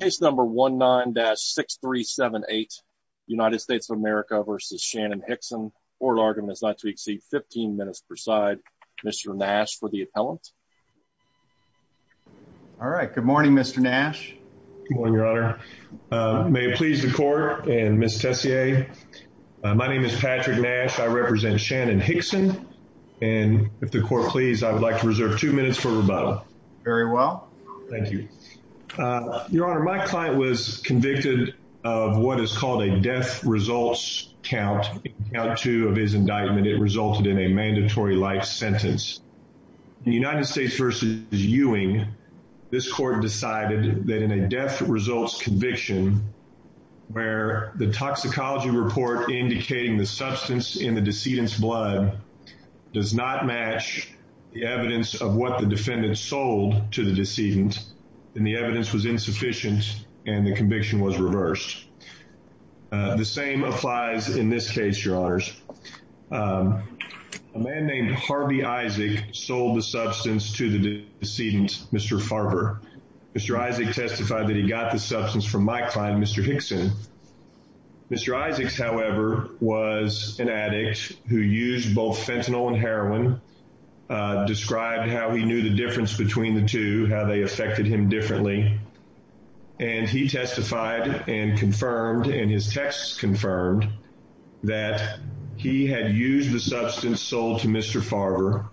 case number 19-6378 United States of America versus Shannon Hixon. Court argument is not to exceed 15 minutes per side. Mr Nash for the appellant. All right. Good morning, Mr Nash. Good morning, Your Honor. May it please the court and Miss Tessier. My name is Patrick Nash. I represent Shannon Hixon. And if the court please, I would like to reserve two minutes for you. Your Honor, my client was convicted of what is called a death results count out to of his indictment. It resulted in a mandatory life sentence. The United States versus Ewing. This court decided that in a death results conviction where the toxicology report indicating the substance in the decedent's blood does not match the evidence of what the and the evidence was insufficient and the conviction was reversed. The same applies in this case, Your Honors. Um, a man named Harvey Isaac sold the substance to the decedent, Mr Farber. Mr Isaac testified that he got the substance from my client, Mr Hixon. Mr Isaacs, however, was an addict who used both fentanyl and heroin, uh, they affected him differently, and he testified and confirmed in his texts confirmed that he had used the substance sold to Mr Farber.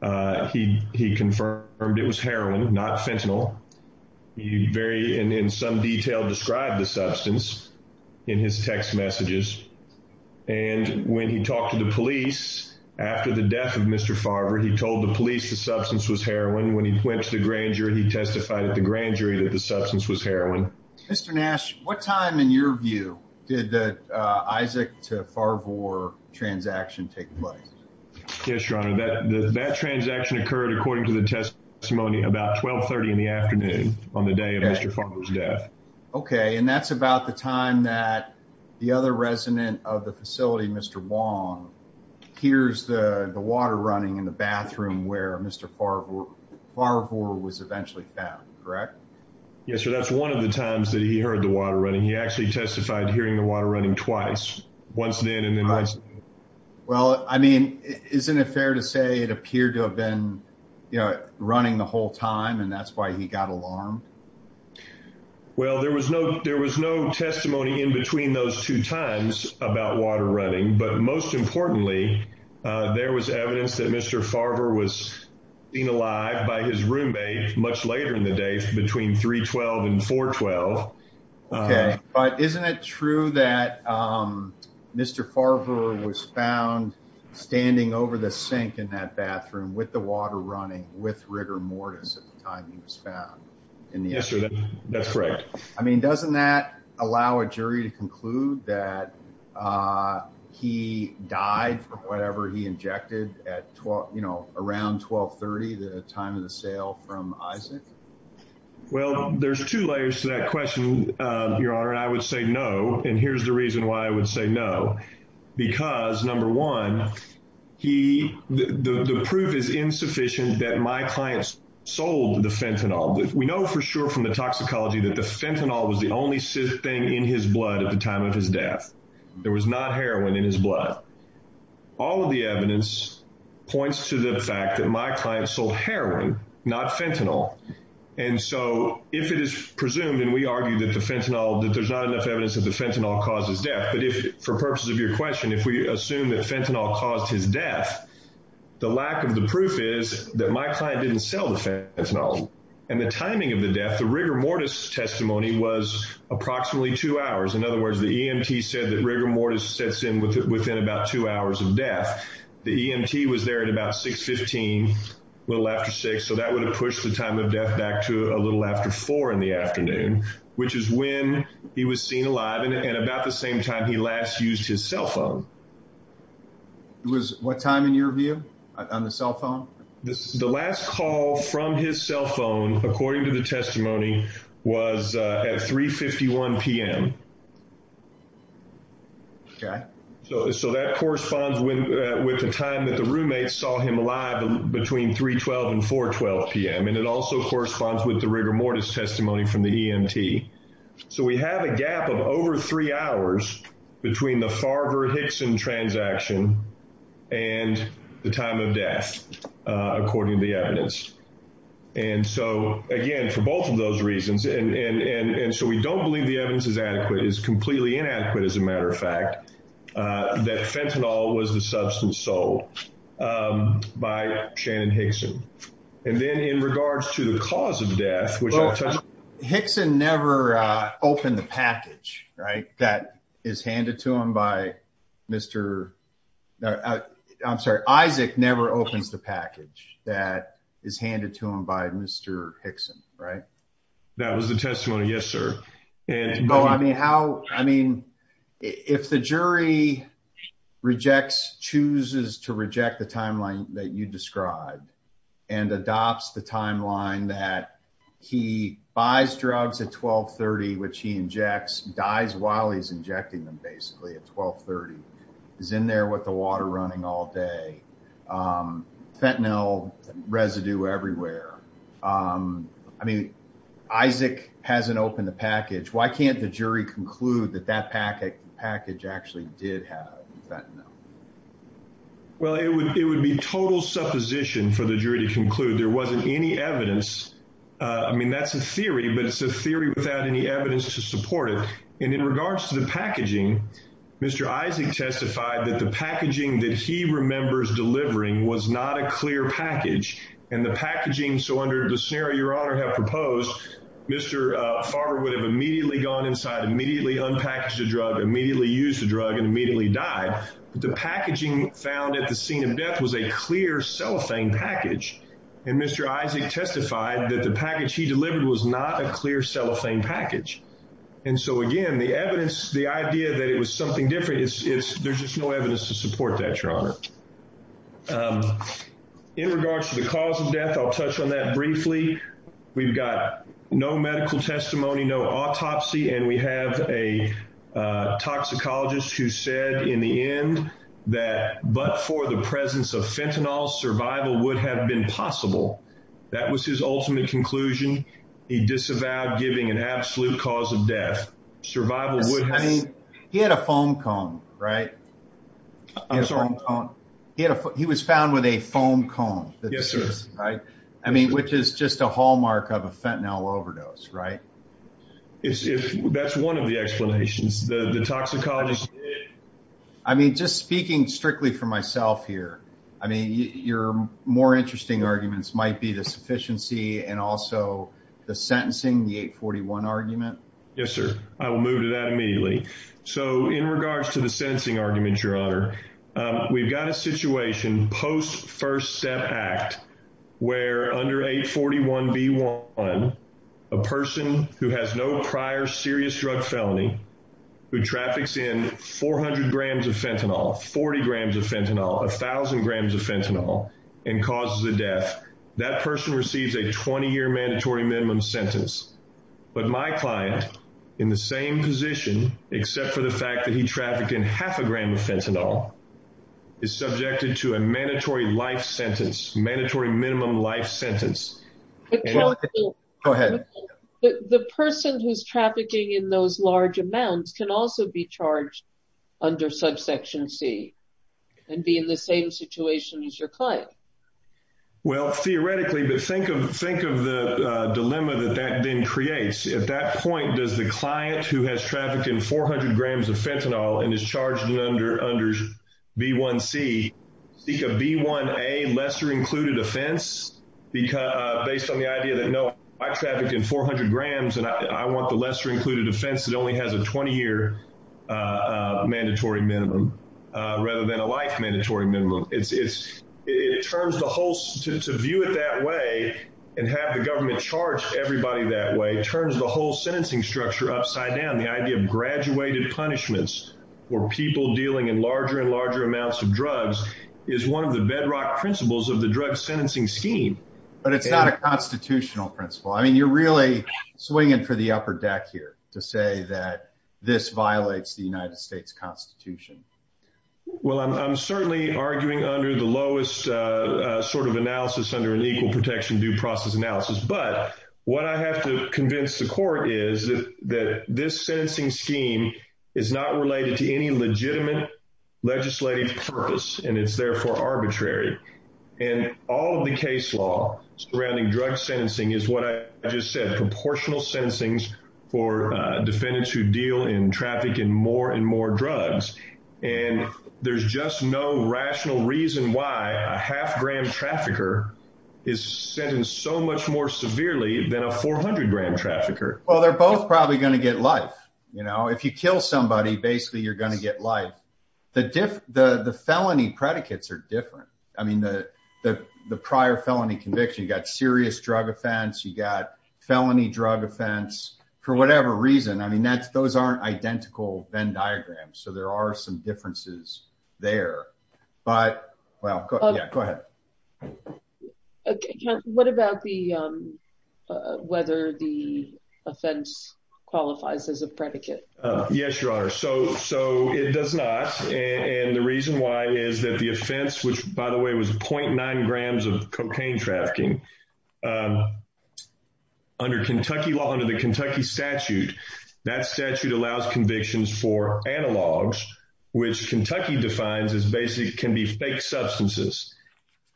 Uh, he confirmed it was heroin, not fentanyl. He very in some detail described the substance in his text messages. And when he talked to the police after the death of Mr Farber, he told the police the substance was heroin. When he went to the grand jury, he testified at the grand jury that the substance was heroin. Mr Nash. What time, in your view, did the Isaac to Farber transaction take place? Yes, Your Honor. That that transaction occurred, according to the testimony about 12 30 in the afternoon on the day of Mr Farber's death. Okay, and that's about the time that the other resident of the facility, Mr Wong, here's the water running in the bathroom where Mr Farber Farber was eventually fat, correct? Yes, sir. That's one of the times that he heard the water running. He actually testified hearing the water running twice once then and then. Well, I mean, isn't it fair to say it appeared to have been, you know, running the whole time, and that's why he got alarmed. Well, there was no there was no testimony in between those two times about water running. But most importantly, there was evidence that Mr Farber was being alive by his roommate much later in the day between 3 12 and 4 12. Okay, but isn't it true that, um, Mr Farber was found standing over the sink in that bathroom with the water running with rigor mortis at the time he was found in the yesterday? That's right. I mean, doesn't that allow a jury to conclude that, uh, he died from whatever he injected at 12, you know, around 12 30, the time of the sale from Isaac. Well, there's two layers to that question, Your Honor. I would say no. And here's the reason why I would say no, because number one, he the proof is insufficient that my clients sold the fentanyl. We know for sure from the toxicology that the his blood at the time of his death, there was not heroin in his blood. All of the evidence points to the fact that my client sold heroin, not fentanyl. And so if it is presumed and we argue that the fentanyl that there's not enough evidence of the fentanyl causes death. But if for purposes of your question, if we assume that fentanyl caused his death, the lack of the proof is that my client didn't sell the fentanyl and the timing of the death. The rigor mortis testimony was approximately two hours. In other words, the E. M. T. Said that rigor mortis sets in with within about two hours of death. The E. M. T. Was there at about 6 15, a little after six. So that would have pushed the time of death back to a little after four in the afternoon, which is when he was seen alive and about the same time he last used his cell phone. It was what time in your view on the cell phone. The last call from his cell phone, according to the testimony, was at 3 51 p.m. Okay, so so that corresponds with with the time that the roommates saw him alive between 3 12 and 4 12 p.m. And it also corresponds with the rigor mortis testimony from the E. M. T. So we have a gap of over three hours between the So again, for both of those reasons, and so we don't believe the evidence is adequate, is completely inadequate. As a matter of fact, that fentanyl was the substance sold by Shannon Hickson. And then in regards to the cause of death, which Hickson never opened the package right that is handed to him by Mr. I'm sorry, Isaac never opens the package that is handed to him by Mr Hickson, right? That was the testimony. Yes, sir. And no, I mean, how? I mean, if the jury rejects, chooses to reject the timeline that you described and adopts the timeline that he buys drugs at 12 30, which he injects, dies while he's injecting them basically at 12 30 is in there with the water running all day. Um, fentanyl residue everywhere. Um, I mean, Isaac hasn't opened the package. Why can't the jury conclude that that packet package actually did have that? No, well, it would. It would be total supposition for the jury to conclude there wasn't any evidence. I mean, that's a theory, but it's a theory without any evidence to support it. And in regards to the packaging, Mr Isaac testified that the packaging that he remembers delivering was not a clear package and the packaging. So under the scenario, your honor have proposed Mr Farber would have immediately gone inside, immediately unpackaged the drug, immediately used the drug and immediately died. The packaging found at the scene of death was a clear cellophane package. And Mr Isaac testified that the package he delivered was not a clear cellophane package. And so again, the evidence, the idea that it was something different is there's just no evidence to support that your honor. Um, in regards to the cause of death, I'll touch on that briefly. We've got no medical testimony, no autopsy. And we have a toxicologist who said in the end that but for the presence of fentanyl, survival would have been possible. That was his ultimate conclusion. He disavowed giving an absolute cause of death. Survival. He had a foam cone, right? I'm sorry. He was found with a foam cone. Yes, sir. Right. I mean, which is just a hallmark of a fentanyl overdose, right? That's one of the explanations. The toxicologist. I mean, just speaking strictly for myself here. I mean, your more interesting arguments might be the deficiency and also the sentencing. The 8 41 argument. Yes, sir. I will move to that immediately. So in regards to the sensing argument, your honor, we've got a situation post first step act where under 8 41 B one, a person who has no prior serious drug felony who traffics in 400 grams of fentanyl, 40 grams of fentanyl, 1000 grams of fentanyl and causes the death. That person receives a 20 year mandatory minimum sentence. But my client in the same position, except for the fact that he trafficked in half a gram of fentanyl, is subjected to a mandatory life sentence. Mandatory minimum life sentence. Go ahead. The person who's trafficking in those large amounts can also be charged under subsection C and be in the same situation as your what? Well, theoretically, but think of think of the dilemma that that then creates. At that point, does the client who has trafficked in 400 grams of fentanyl and is charged under under B one C seek a B one a lesser included offense? Because based on the idea that no, I trafficked in 400 grams and I want the lesser included offense that only has a 20 year, uh, mandatory minimum rather than a life mandatory minimum. It's it turns the whole to view it that way and have the government charge everybody that way turns the whole sentencing structure upside down. The idea of graduated punishments for people dealing in larger and larger amounts of drugs is one of the bedrock principles of the drug sentencing scheme. But it's not a constitutional principle. I mean, you're really swinging for the upper deck here to say that this violates the United States Constitution. Well, I'm certainly arguing under the lowest sort of analysis under an equal protection due process analysis. But what I have to convince the court is that this sentencing scheme is not related to any legitimate legislative purpose, and it's therefore arbitrary. And all of the case law surrounding drug sentencing is what I just said. Proportional sentencings for defendants who deal in traffic and more and more drugs. And there's just no rational reason why a half gram trafficker is sentenced so much more severely than a 400 gram trafficker. Well, they're both probably gonna get life. You know, if you kill somebody, basically, you're gonna get life. The different the felony predicates are different. I mean, the prior felony conviction got serious drug offense. You got felony drug offense for whatever reason. I mean, that's those aren't identical Venn diagram. So there are some differences there. But well, go ahead. Okay. What about the whether the offense qualifies as a predicate? Yes, Your Honor. So so it does not. And the reason why is that the offense, which, by the way, was 0.9 grams of cocaine trafficking. Um, under Kentucky law under the Kentucky statute, that statute allows convictions for analogs, which Kentucky defines is basically can be fake substances.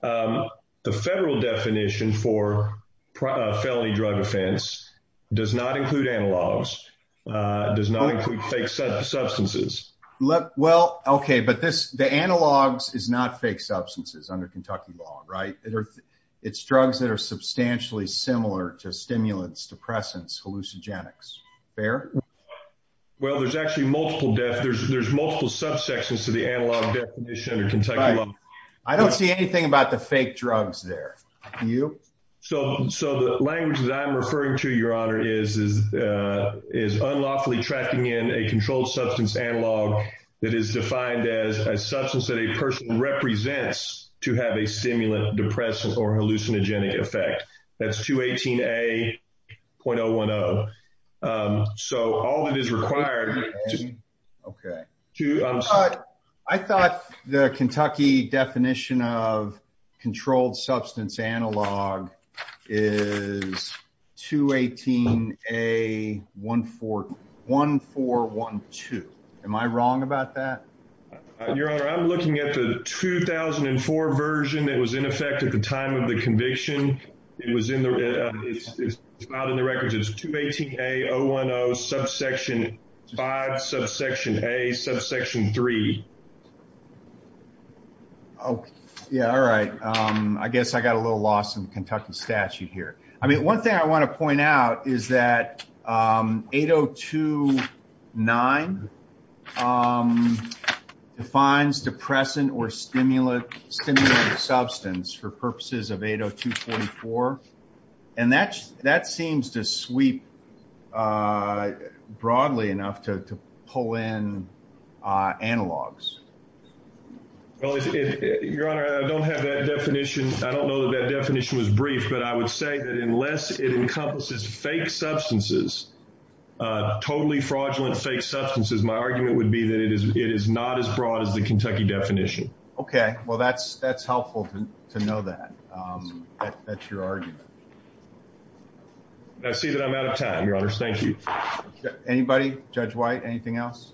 Um, the federal definition for felony drug offense does not include analogs, does not include fake substances. Well, okay. But this the analogs is not fake substances under Kentucky law, right? It's drugs that are substantially similar to stimulants, depressants, hallucinogenics. Fair. Well, there's actually multiple death. There's multiple subsections to the analog definition of Kentucky. I don't see anything about the fake drugs there. You so so the language that I'm tracking in a controlled substance analog that is defined as a substance that a person represents to have a stimulant, depressed or hallucinogenic effect. That's 2 18 a.010. Um, so all that is required. Okay, I thought the 1412. Am I wrong about that? Your honor, I'm looking at the 2004 version that was in effect at the time of the conviction. It was in the out in the records. It's 2 18 a. 010 subsection five subsection a subsection three. Oh, yeah. All right. Um, I guess I got a little lost in Kentucky statute here. I mean, one thing I want to point out is that, um, 802 9. Um, defines depressant or stimulant stimulant substance for purposes of 802 44. And that's that seems to sweep, uh, broadly enough to pull in analogs. Well, if your honor, I don't have that definition. I don't know that definition was brief, but I would say that unless it encompasses fake substances, uh, totally fraudulent fake substances, my argument would be that it is. It is not as broad as the Kentucky definition. Okay, well, that's that's helpful to know that. Um, that's your argument. I see that I'm out of time. Your honor. Thank you. Anybody? Judge White. Anything else?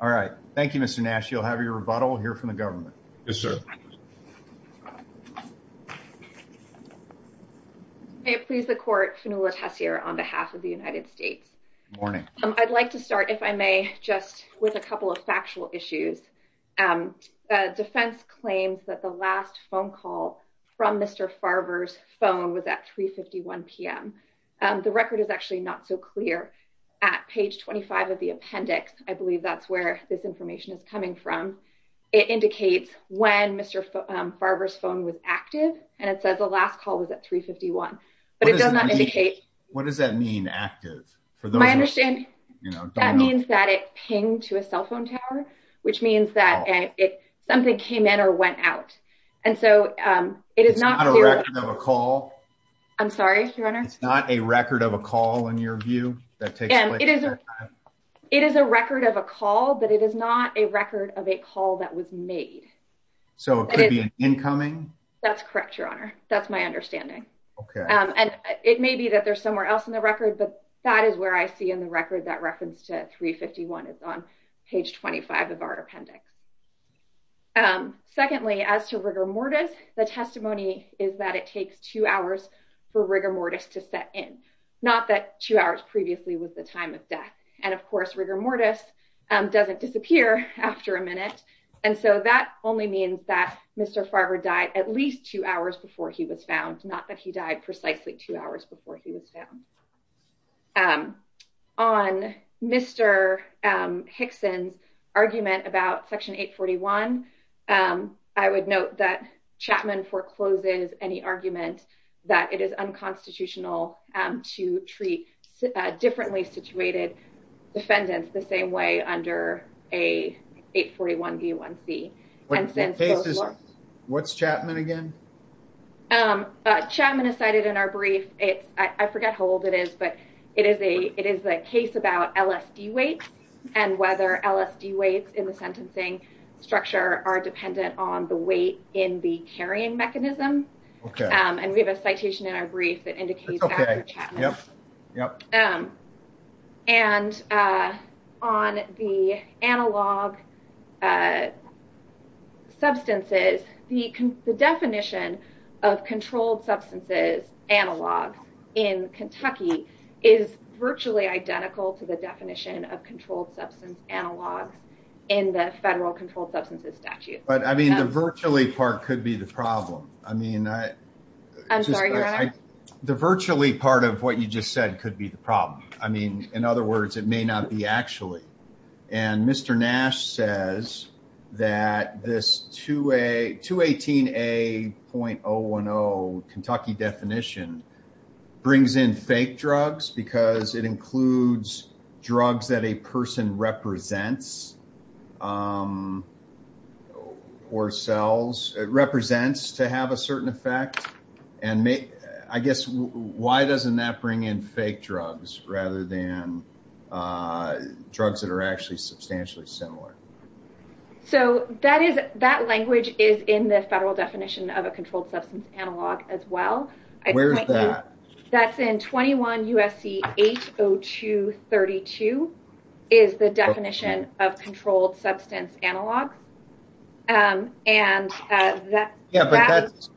All right. Thank you, Mr Nash. You'll have your rebuttal here from the government. Yes, sir. May it please the court. Phenola Tessier on behalf of the United States morning. I'd like to start, if I may, just with a couple of factual issues. Um, defense claims that the last phone call from Mr Farber's phone was at 3 51 p.m. Um, the record is actually not so clear at page 25 of the appendix. I believe that's where this information is coming from. It indicates when Mr Farber's phone was active, and it says the last call was at 3 51. But it does not indicate. What does that mean? Active for my understanding? You know, that means that it pinged to a cell phone tower, which means that something came in or went out. And so, um, it is not a record of a call. I'm sorry, your honor. It's not a record of a call. In your view, that it is. It is a record of a call, but it is not a record of a call that was made. So it could be an incoming. That's correct, your honor. That's my understanding. And it may be that there's somewhere else in the record. But that is where I see in the record that reference to 3 51 is on page 25 of our appendix. Um, secondly, as to rigor mortis, the testimony is that it takes two hours for rigor mortis to set in. Not that two hours previously was the time of death. And, of course, rigor mortis doesn't disappear after a minute. And so that only means that Mr Farber died at least two hours before he was found. Not that he died precisely two hours before he was found. Um, on Mr Hickson's argument about Section 8 41. Um, I would note that Chapman forecloses any argument that it is unconstitutional to treat differently situated defendants the same way under a 8 41 B one C. And since this is what's Chapman again? Um, Chapman is cited in our brief. It's I forget how old it is, but it is a It is a case about LSD weight and whether LSD weights in the sentencing structure are dependent on the weight in the carrying mechanism. Um, and we have a on the analog, uh, substances. The definition of controlled substances analog in Kentucky is virtually identical to the definition of controlled substance analogs in the federal controlled substances statute. But I mean, the virtually part could be the problem. I mean, I'm sorry. The virtually part of what you just said could be the problem. I mean, in other words, it may not be actually. And Mr Nash says that this to a to 18 a point 010 Kentucky definition brings in fake drugs because it includes drugs that a person represents. Um, or cells represents to have a certain effect and I guess why doesn't that bring in fake drugs rather than, uh, drugs that are actually substantially similar? So that is that language is in the federal definition of a controlled substance analog as well. Where is that? That's in 21 U. S. C. 802 32 is the definition of controlled substance analogs. Um, and yeah, but that's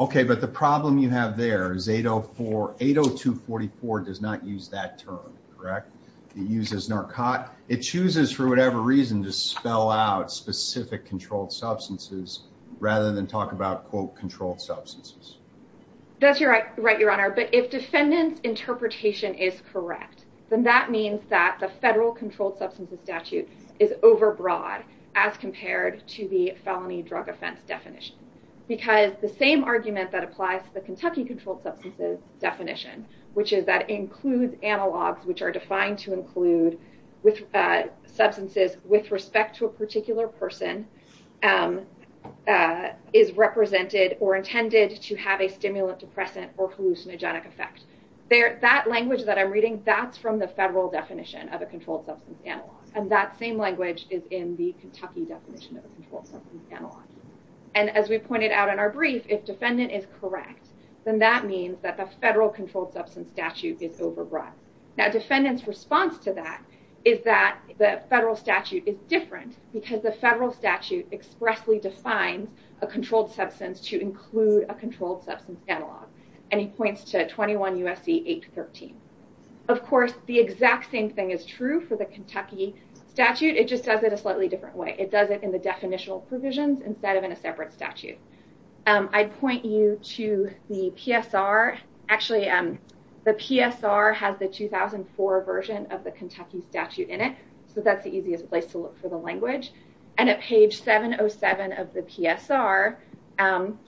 okay. But the problem you have there is 804 80 to 44 does not use that term correct. It uses narcotic. It chooses for whatever reason to spell out specific controlled substances rather than talk about quote controlled substances. That's right, Your Honor. But if defendants interpretation is correct, then that means that the federal controlled substances statute is definition because the same argument that applies to the Kentucky controlled substances definition, which is that includes analogs which are defined to include with substances with respect to a particular person, um, uh, is represented or intended to have a stimulant, depressant or hallucinogenic effect there. That language that I'm reading, that's from the federal definition of a controlled substance analog, and that same language is in the and as we pointed out in our brief, if defendant is correct, then that means that the federal controlled substance statute is over brought. Now, defendants response to that is that the federal statute is different because the federal statute expressly defines a controlled substance to include a controlled substance analog. And he points to 21 U. S. C. 8 13. Of course, the exact same thing is true for the Kentucky statute. It just does it a slightly different way. It does it in the definitional provisions instead of in a separate statute. Um, I'd point you to the P. S. R. Actually, um, the P. S. R. Has the 2004 version of the Kentucky statute in it. So that's the easiest place to look for the language and a page 707 of the P. S. R. Um,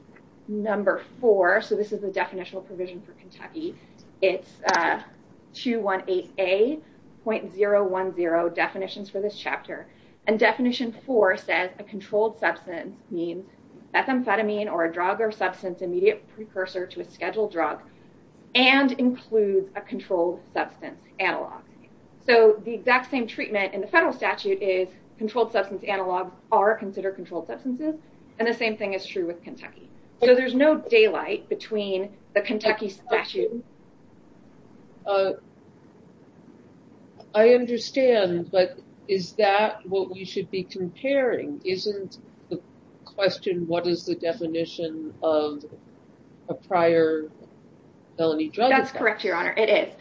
number four. So this is the definitional provision for Kentucky. It's, uh, 218 a point 010 definitions for this chapter and definition for says a methamphetamine or a drug or substance immediate precursor to a scheduled drug and includes a controlled substance analog. So the exact same treatment in the federal statute is controlled substance analog are considered controlled substances. And the same thing is true with Kentucky. So there's no daylight between the Kentucky statute. Uh, I understand. But is that what we should be comparing? Isn't the question. What is the definition of a prior felony drug? That's correct, Your Honor. It is.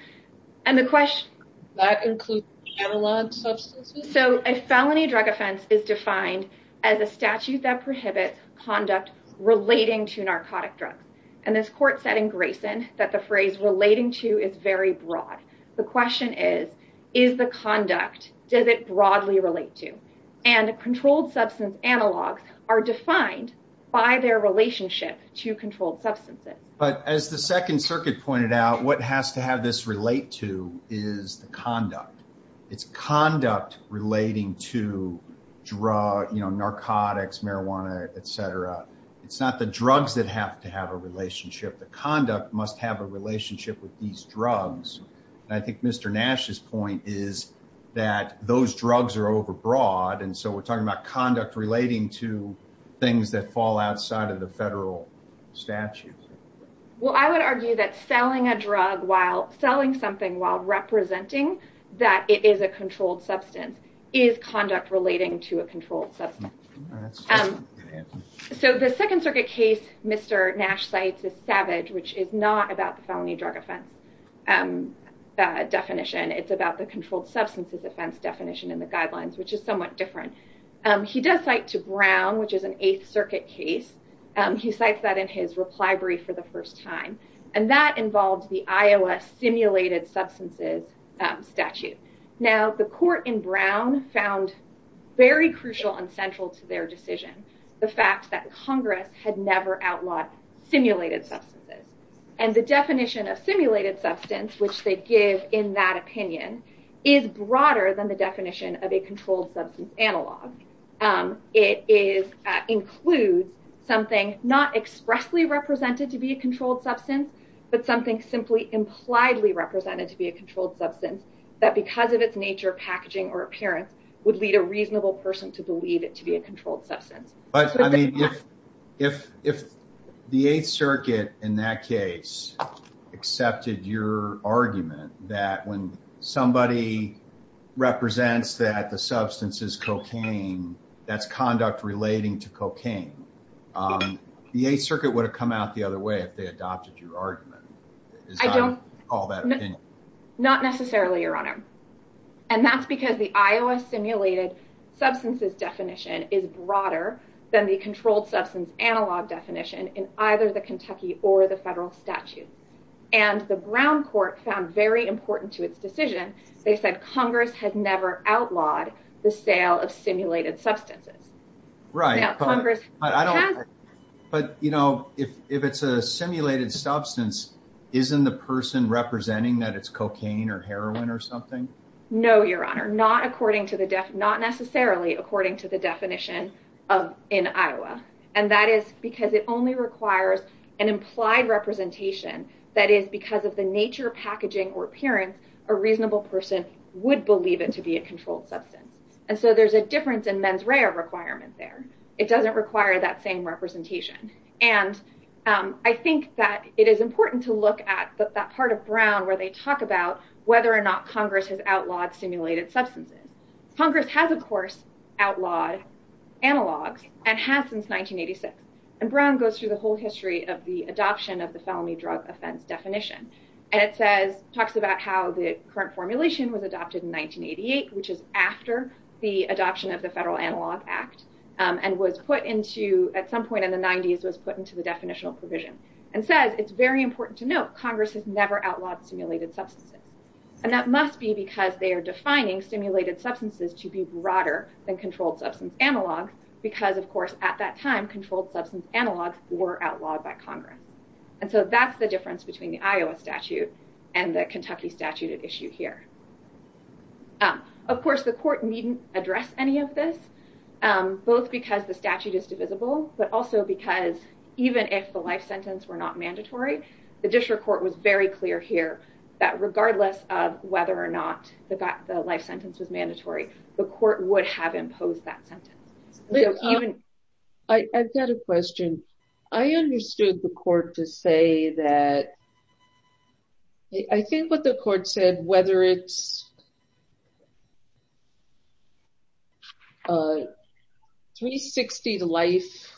And the question that includes analog substances. So a felony drug offense is defined as a statute that prohibits conduct relating to narcotic drugs. And this court setting Grayson that the phrase relating to is very broad. The question is, is the conduct does it broadly relate to? And a controlled substance analogs are defined by their relationship to controlled substances. But as the Second Circuit pointed out, what has to have this relate to is the conduct. It's conduct relating to draw, you know, narcotics, marijuana, etcetera. It's not the drugs that have to have a relationship. The conduct must have a relationship with these drugs. I think Mr Nash's point is that those drugs are overbroad. And so we're talking about conduct relating to things that fall outside of the federal statute. Well, I would argue that selling a drug while selling something while representing that it is a controlled substance is conduct relating to a controlled substance. Um, so the Second Circuit case, Mr Nash cites a case in Savage, which is not about the felony drug offense definition. It's about the controlled substances offense definition in the guidelines, which is somewhat different. He does cite to Brown, which is an Eighth Circuit case. He cites that in his reply brief for the first time. And that involved the Iowa simulated substances statute. Now, the court in Brown found very crucial and central to their decision. The fact that Congress had never outlawed simulated substances and the definition of simulated substance, which they give in that opinion, is broader than the definition of a controlled substance analog. Um, it is, uh, includes something not expressly represented to be a controlled substance, but something simply impliedly represented to be a controlled substance that because of its nature, packaging or appearance would lead a reasonable person to believe it to be a controlled substance. But I mean, if if if the Eighth Circuit in that case accepted your argument that when somebody represents that the substance is cocaine, that's conduct relating to cocaine. Um, the Eighth Circuit would have come out the other way if they adopted your argument. I don't call that not necessarily your honor. And that's because the Iowa simulated substances definition is broader than the controlled substance analog definition in either the Kentucky or the federal statute. And the Brown court found very important to its decision. They said Congress had never outlawed the sale of simulated substances, right? But I don't. But, you know, if if it's a simulated substance, isn't the person representing that it's cocaine or heroin or something? No, your honor, not according to the death, not necessarily according to the definition of in Iowa. And that is because it only requires an implied representation that is because of the nature, packaging or appearance, a reasonable person would believe it to be a controlled substance. And so there's a difference in men's rare requirement there. It doesn't require that same representation. And I think that it is important to look at that part of Brown where they talk about whether or not Congress has outlawed simulated substances. Congress has, of course, outlawed analogs and has since 1986. And Brown goes through the whole history of the adoption of the felony drug offense definition. And it says talks about how the current formulation was adopted in 1988, which is after the adoption of the Federal Analog Act and was put into at some point in the 90s, was put into the definitional provision and says it's very important to note Congress has never outlawed simulated substances. And it must be because they are defining stimulated substances to be broader than controlled substance analog, because, of course, at that time, controlled substance analogs were outlawed by Congress. And so that's the difference between the Iowa statute and the Kentucky statute at issue here. Of course, the court needn't address any of this, both because the statute is divisible, but also because even if the life sentence were not mandatory, the district court was very clear here that regardless of whether or not the life sentence was mandatory, the court would have imposed that sentence. I've got a question. I understood the court to say that I think what the court said, whether it's 360 life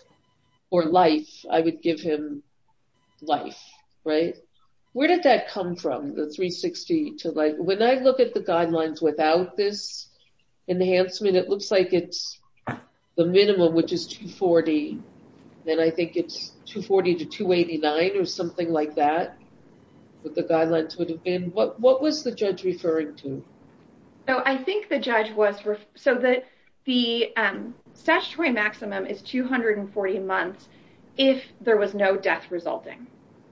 or life, I think it's 240 to 289 or something like that. What was the judge referring to? I think the judge was, so the statutory maximum is 240 months if there was no death resulting.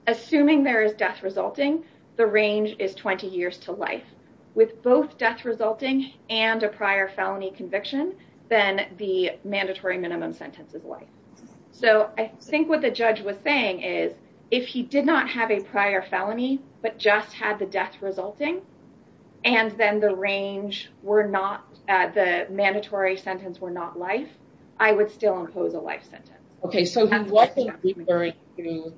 Assuming there is death resulting, the range is 20 years to life. With both death resulting and a prior felony conviction, then the mandatory minimum sentence is life. So I think what the judge was saying is if he did not have a prior felony, but just had the death resulting, and then the range were not, the mandatory sentence were not life, I would still impose a life sentence. Okay, so he wasn't referring to,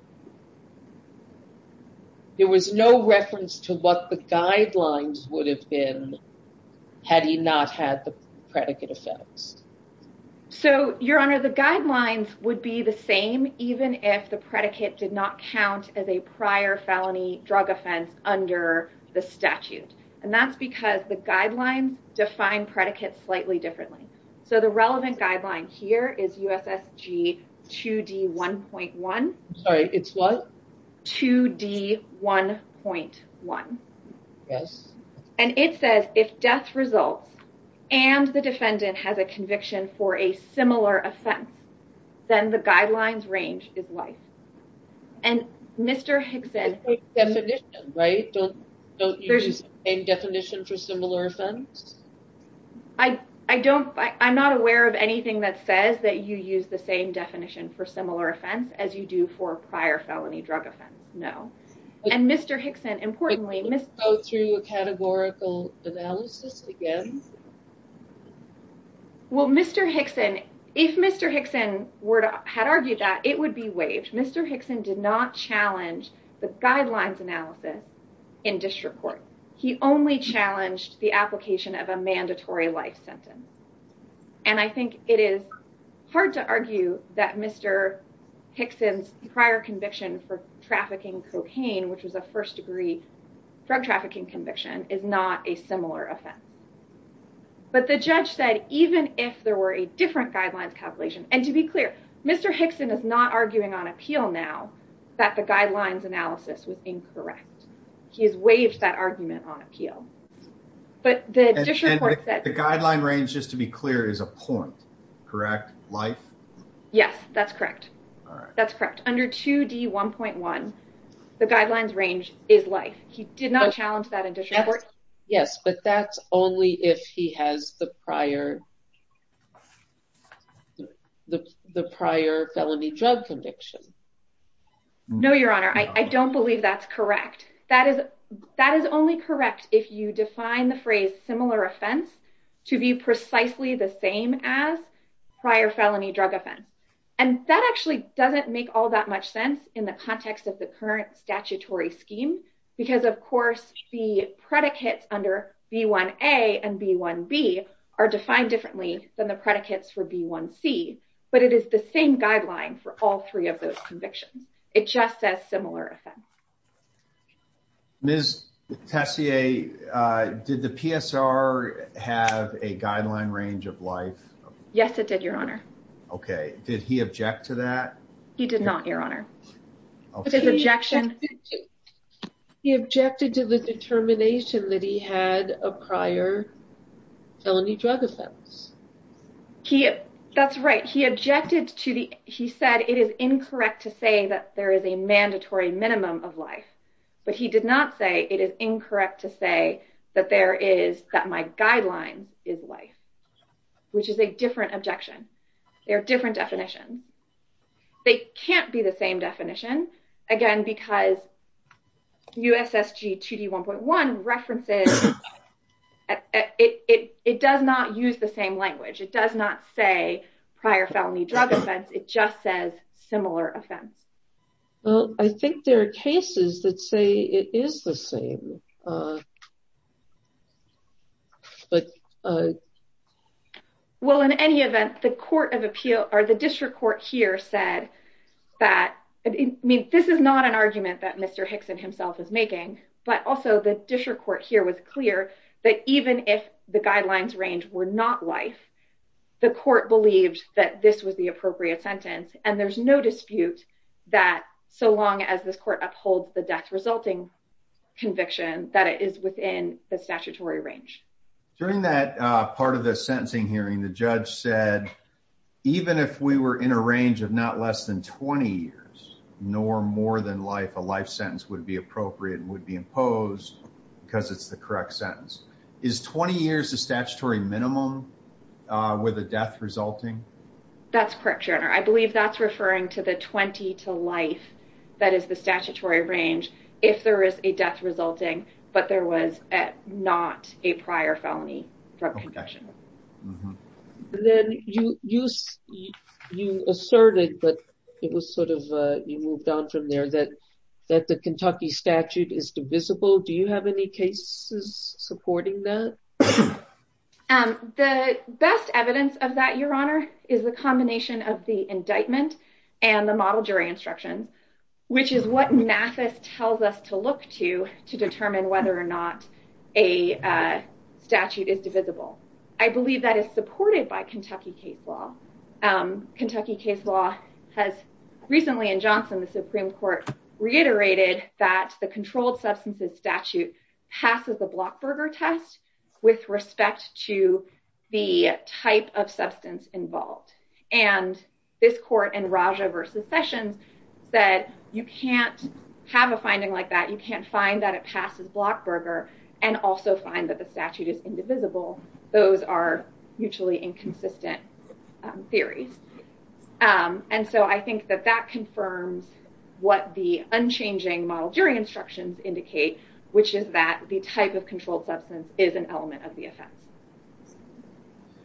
there was no reference to what the guidelines would have been had he not had the predicate offense. So, Your Honor, the guidelines would be the same even if the predicate did not count as a prior felony drug offense under the statute. And that's because the guidelines define predicates slightly differently. So the relevant guideline here is USSG 2D1.1. Sorry, it's what? 2D1.1. Yes. And it says if death results and the defendant has a conviction for a similar offense, then the guidelines range is life. And Mr. Hickson. The same definition, right? Don't you use the same definition for similar offense? I don't. I'm not aware of anything that says that you use the same definition for similar offense as you do for a prior felony drug offense. No. And Mr. Hickson, importantly. Go through a categorical analysis again. Well, Mr. Hickson, if Mr. Hickson had argued that, it would be waived. Mr. Hickson did not challenge the guidelines analysis in this case. He only challenged the application of a mandatory life sentence. And I think it is hard to argue that Mr. Hickson's prior conviction for trafficking cocaine, which was a first-degree drug trafficking conviction, is not a similar offense. But the judge said even if there were a different guidelines calculation, and to be clear, Mr. Hickson is not arguing on appeal now that the The guideline range, just to be clear, is a point, correct? Life? Yes, that's correct. That's correct. Under 2D1.1, the guidelines range is life. He did not challenge that in this report. Yes, but that's only if he has the prior felony drug conviction. No, Your Honor. I don't believe that's correct. That is only correct if you define the phrase similar offense to be precisely the same as prior felony drug offense. And that actually doesn't make all that much sense in the context of the current statutory scheme because, of course, the predicates under B1A and B1B are defined differently than the predicates for B1C. But it is the same guideline for all three of those convictions. It just says that. Did the PSR have a guideline range of life? Yes, it did, Your Honor. Okay. Did he object to that? He did not, Your Honor. He objected to the determination that he had a prior felony drug offense. That's right. He objected to the... He said it is incorrect to say that there is a mandatory minimum of life. But he did not say it is incorrect to say that my guidelines is life, which is a different objection. They are different definitions. They can't be the same definition, again, because USSG 2D1.1 references... It does not use the same language. It does not say prior felony drug offense. It just says similar offense. Well, I think there are cases that say it is the same. Well, in any event, the District Court here said that... I mean, this is not an argument that Mr. Hickson himself is making, but also the District Court here was clear that even if the guidelines range were not life, the court believed that this was the appropriate sentence. And there's no dispute that so long as this court upholds the death-resulting conviction, that it is within the statutory range. During that part of the sentencing hearing, the judge said, even if we were in a range of not less than 20 years, nor more than life, a life sentence would be appropriate and would be imposed because it's the correct sentence. Is 20 years the statutory minimum with a death resulting? That's correct, Your Honor. I believe that's referring to the 20 to life that is the statutory range if there is a death resulting, but there was not a prior felony drug conviction. Then you asserted that it was sort of... You moved on from there that the case is supporting that? The best evidence of that, Your Honor, is the combination of the indictment and the model jury instructions, which is what Mathis tells us to look to to determine whether or not a statute is divisible. I believe that is supported by Kentucky case law. Kentucky case law has recently in Johnson, the Supreme Court reiterated that the controlled substances statute passes the Blockberger test with respect to the type of substance involved. This court in Raja versus Sessions said, you can't have a finding like that. You can't find that it passes Blockberger and also find that the statute is indivisible. Those are mutually inconsistent theories. And so I think that that confirms what the unchanging model jury instructions indicate, which is that the type of controlled substance is an element of the offense.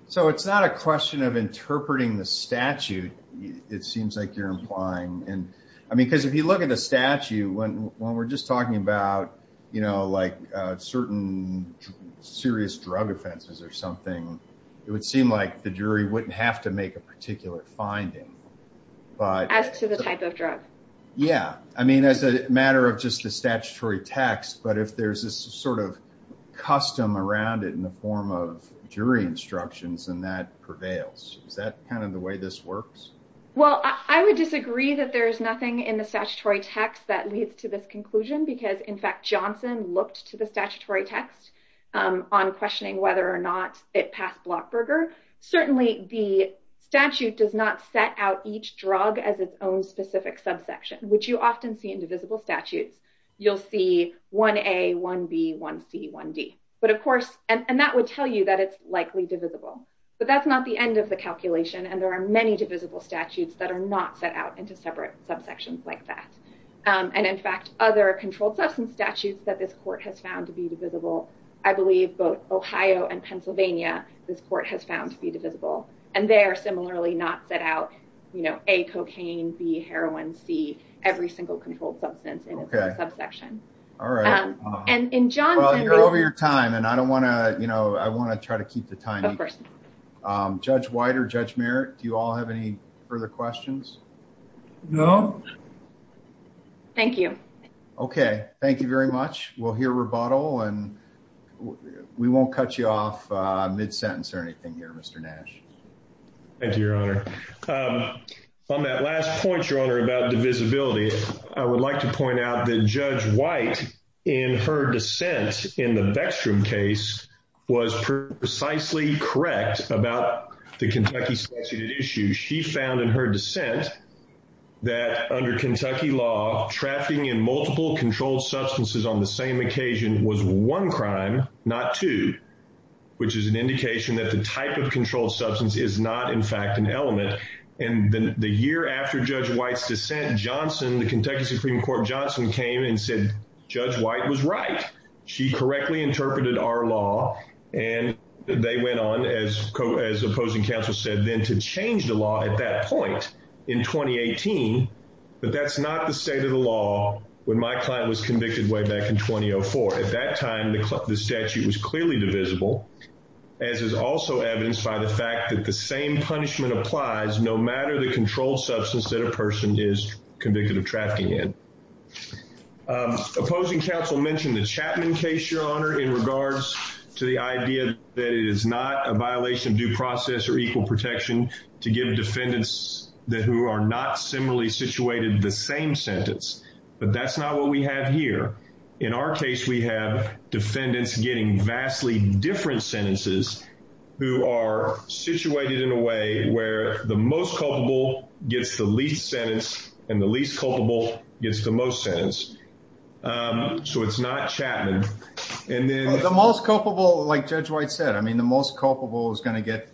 So it's not a question of interpreting the statute, it seems like you're implying. I mean, because if you look at the statute when we're just talking about, you know, like certain serious drug offenses or something, it would seem like the jury wouldn't have to make a particular finding, but as to the type of drug. Yeah, I mean, as a matter of just the statutory text, but if there's this sort of custom around it in the form of jury instructions and that prevails, is that kind of the way this works? Well, I would disagree that there's nothing in the statutory text that leads to this conclusion, because in fact, Johnson looked to the statutory text on questioning whether or not it passed Blockberger. Certainly, the statute does not set out each drug as its own specific subsection, which you often see in divisible statutes. You'll see 1A, 1B, 1C, 1D. But of course, and that would tell you that it's likely divisible, but that's not the end of the calculation. And there are many divisible statutes that are not set out into separate subsections like that. And in fact, other controlled substance statutes that this court has found to be divisible, I believe both Ohio and Pennsylvania, this court has found to be divisible. And they are similarly not set out, you know, A, cocaine, B, heroin, C, every single controlled substance in a subsection. All right. Well, you're over your time, and I don't want to, you know, I want to try to keep the time. Of course. Judge White or Judge Merritt, do you all have any further questions? No. Thank you. Okay. Thank you very much. We'll hear rebuttal, and we won't cut you off mid-sentence or anything here, Mr. Nash. Thank you, Your Honor. On that last point, Your Honor, about divisibility, I would like to point out that Judge White, in her dissent in the Beckstrom case, was precisely correct about the Kentucky statute issue. She found in her dissent that under Kentucky law, trafficking in multiple controlled substances on the same occasion was one crime, not two, which is an indication that the type of controlled substance is not, in fact, an element. And then the year after Judge White's dissent, Johnson, the Kentucky Supreme Court, Johnson came and said Judge White was right. She correctly interpreted our law, and they went on, as opposing counsel said, then to change the law at that point in 2018. But that's not the state of the law when my client was convicted way back in 2004. At that time, the statute was clearly divisible, as is also evidenced by the fact that the same punishment applies no matter the controlled substance that a person is convicted of trafficking in. Opposing counsel mentioned the Chapman case, Your Honor, in regards to the idea that it is not a violation of due process or equal protection to give defendants who are not similarly situated the same sentence. But that's not what we have here. In our case, we have defendants getting vastly different sentences who are situated in a way where the most culpable gets the least sentence, and the least culpable gets the most sentence. So it's not Chapman. And then... Well, the most culpable, like Judge White said, I mean, the most culpable is going to get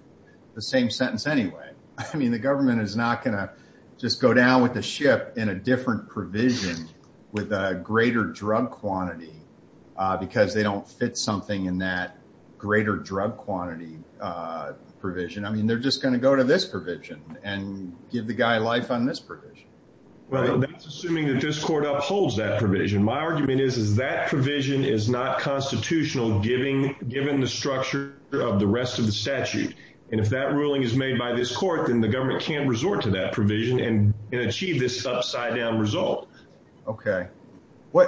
the same sentence anyway. I mean, the government is not going to just go down with the ship in a different provision with a greater drug quantity because they don't fit something in that greater drug quantity provision. I mean, they're just going to go to this provision and give the guy life on this provision. Well, that's assuming that this court upholds that provision. My argument is is that provision is not constitutional, given the structure of the rest of the statute. And if that ruling is made by this court, then the government can't resort to that provision and achieve this upside down result. Okay.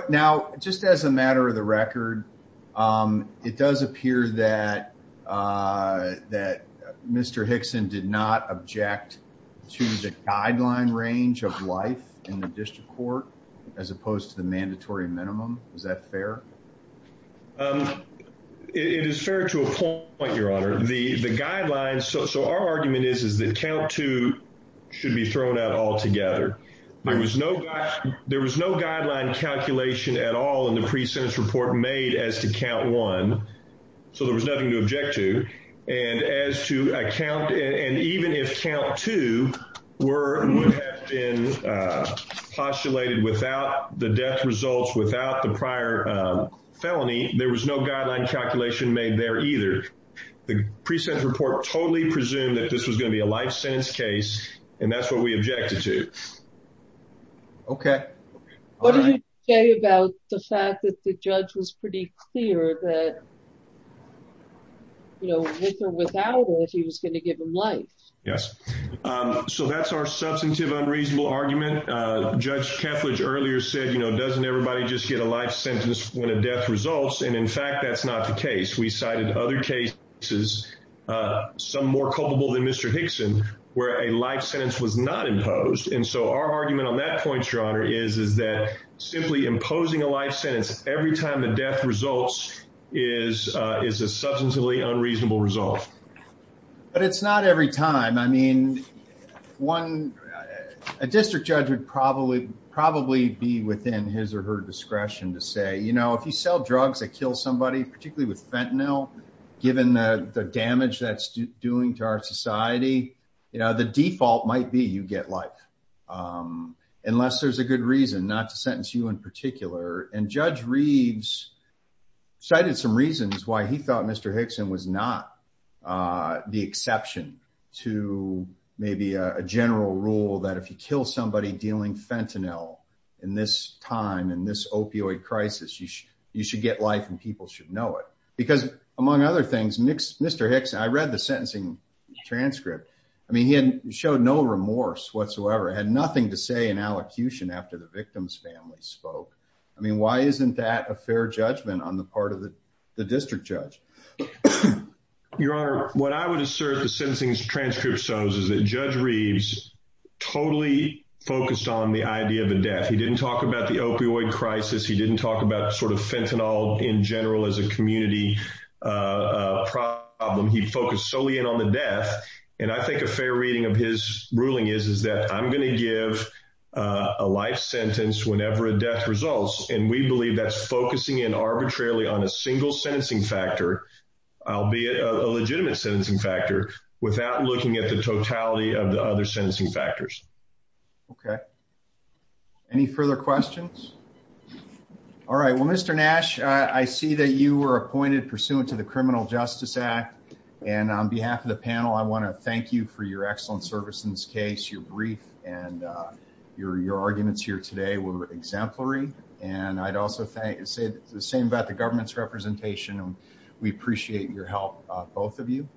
Now, just as a matter of the record, it does appear that Mr. Hickson did not object to the guideline range of life in the district court, as opposed to the mandatory minimum. Is that fair? It is fair to a point, Your Honor. The guidelines... So our argument is that count two should be thrown out altogether. There was no guideline calculation at all in the pre-sentence report made as to count one. So there was nothing to object to. And as to a count... And even if count two would have been postulated without the death results, without the prior felony, there was no guideline calculation made there either. The pre-sentence report totally presumed that this was going to be a life sentence case, and that's what we objected to. Okay. All right. What did you say about the fact that the judge was pretty clear that, you know, with or without it, he was going to give him life? Yes. So that's our substantive unreasonable argument. Judge Kethledge earlier said, you know, doesn't everybody just get a life sentence when a death results? And in fact, that's not the case. We cited other cases, some more culpable than Mr. Hickson, where a life sentence was not imposed. And so our argument on that point, Your Honor, is that simply imposing a life sentence every time the death results is a substantively unreasonable result. But it's not every time. I mean, a district judge would probably be within his or her discretion to say, you know, if you sell drugs that kill somebody, particularly with fentanyl, given the damage that's doing to our society, you know, the default might be you get life, unless there's a good reason not to sentence you in particular. And Judge Reeves cited some reasons why he was not the exception to maybe a general rule that if you kill somebody dealing fentanyl in this time, in this opioid crisis, you should get life and people should know it. Because among other things, Mr. Hickson, I read the sentencing transcript. I mean, he had showed no remorse whatsoever, had nothing to say in allocution after the victim's family spoke. I mean, why isn't that a fair judgment on the part of the district judge? Your Honor, what I would assert the sentencing transcript shows is that Judge Reeves totally focused on the idea of a death. He didn't talk about the opioid crisis. He didn't talk about sort of fentanyl in general as a community problem. He focused solely on the death. And I think a fair reading of his ruling is, is that I'm going to give a life sentence whenever a death results. And we believe that's focusing in arbitrarily on a single sentencing factor, albeit a legitimate sentencing factor, without looking at the totality of the other sentencing factors. Okay. Any further questions? All right. Well, Mr. Nash, I see that you were appointed pursuant to the Criminal Justice Act. And on behalf of the panel, I want to thank you for your excellent service in this case. Your brief and your arguments here today were exemplary. And I'd also say the same about the government's representation. We appreciate your help, both of you.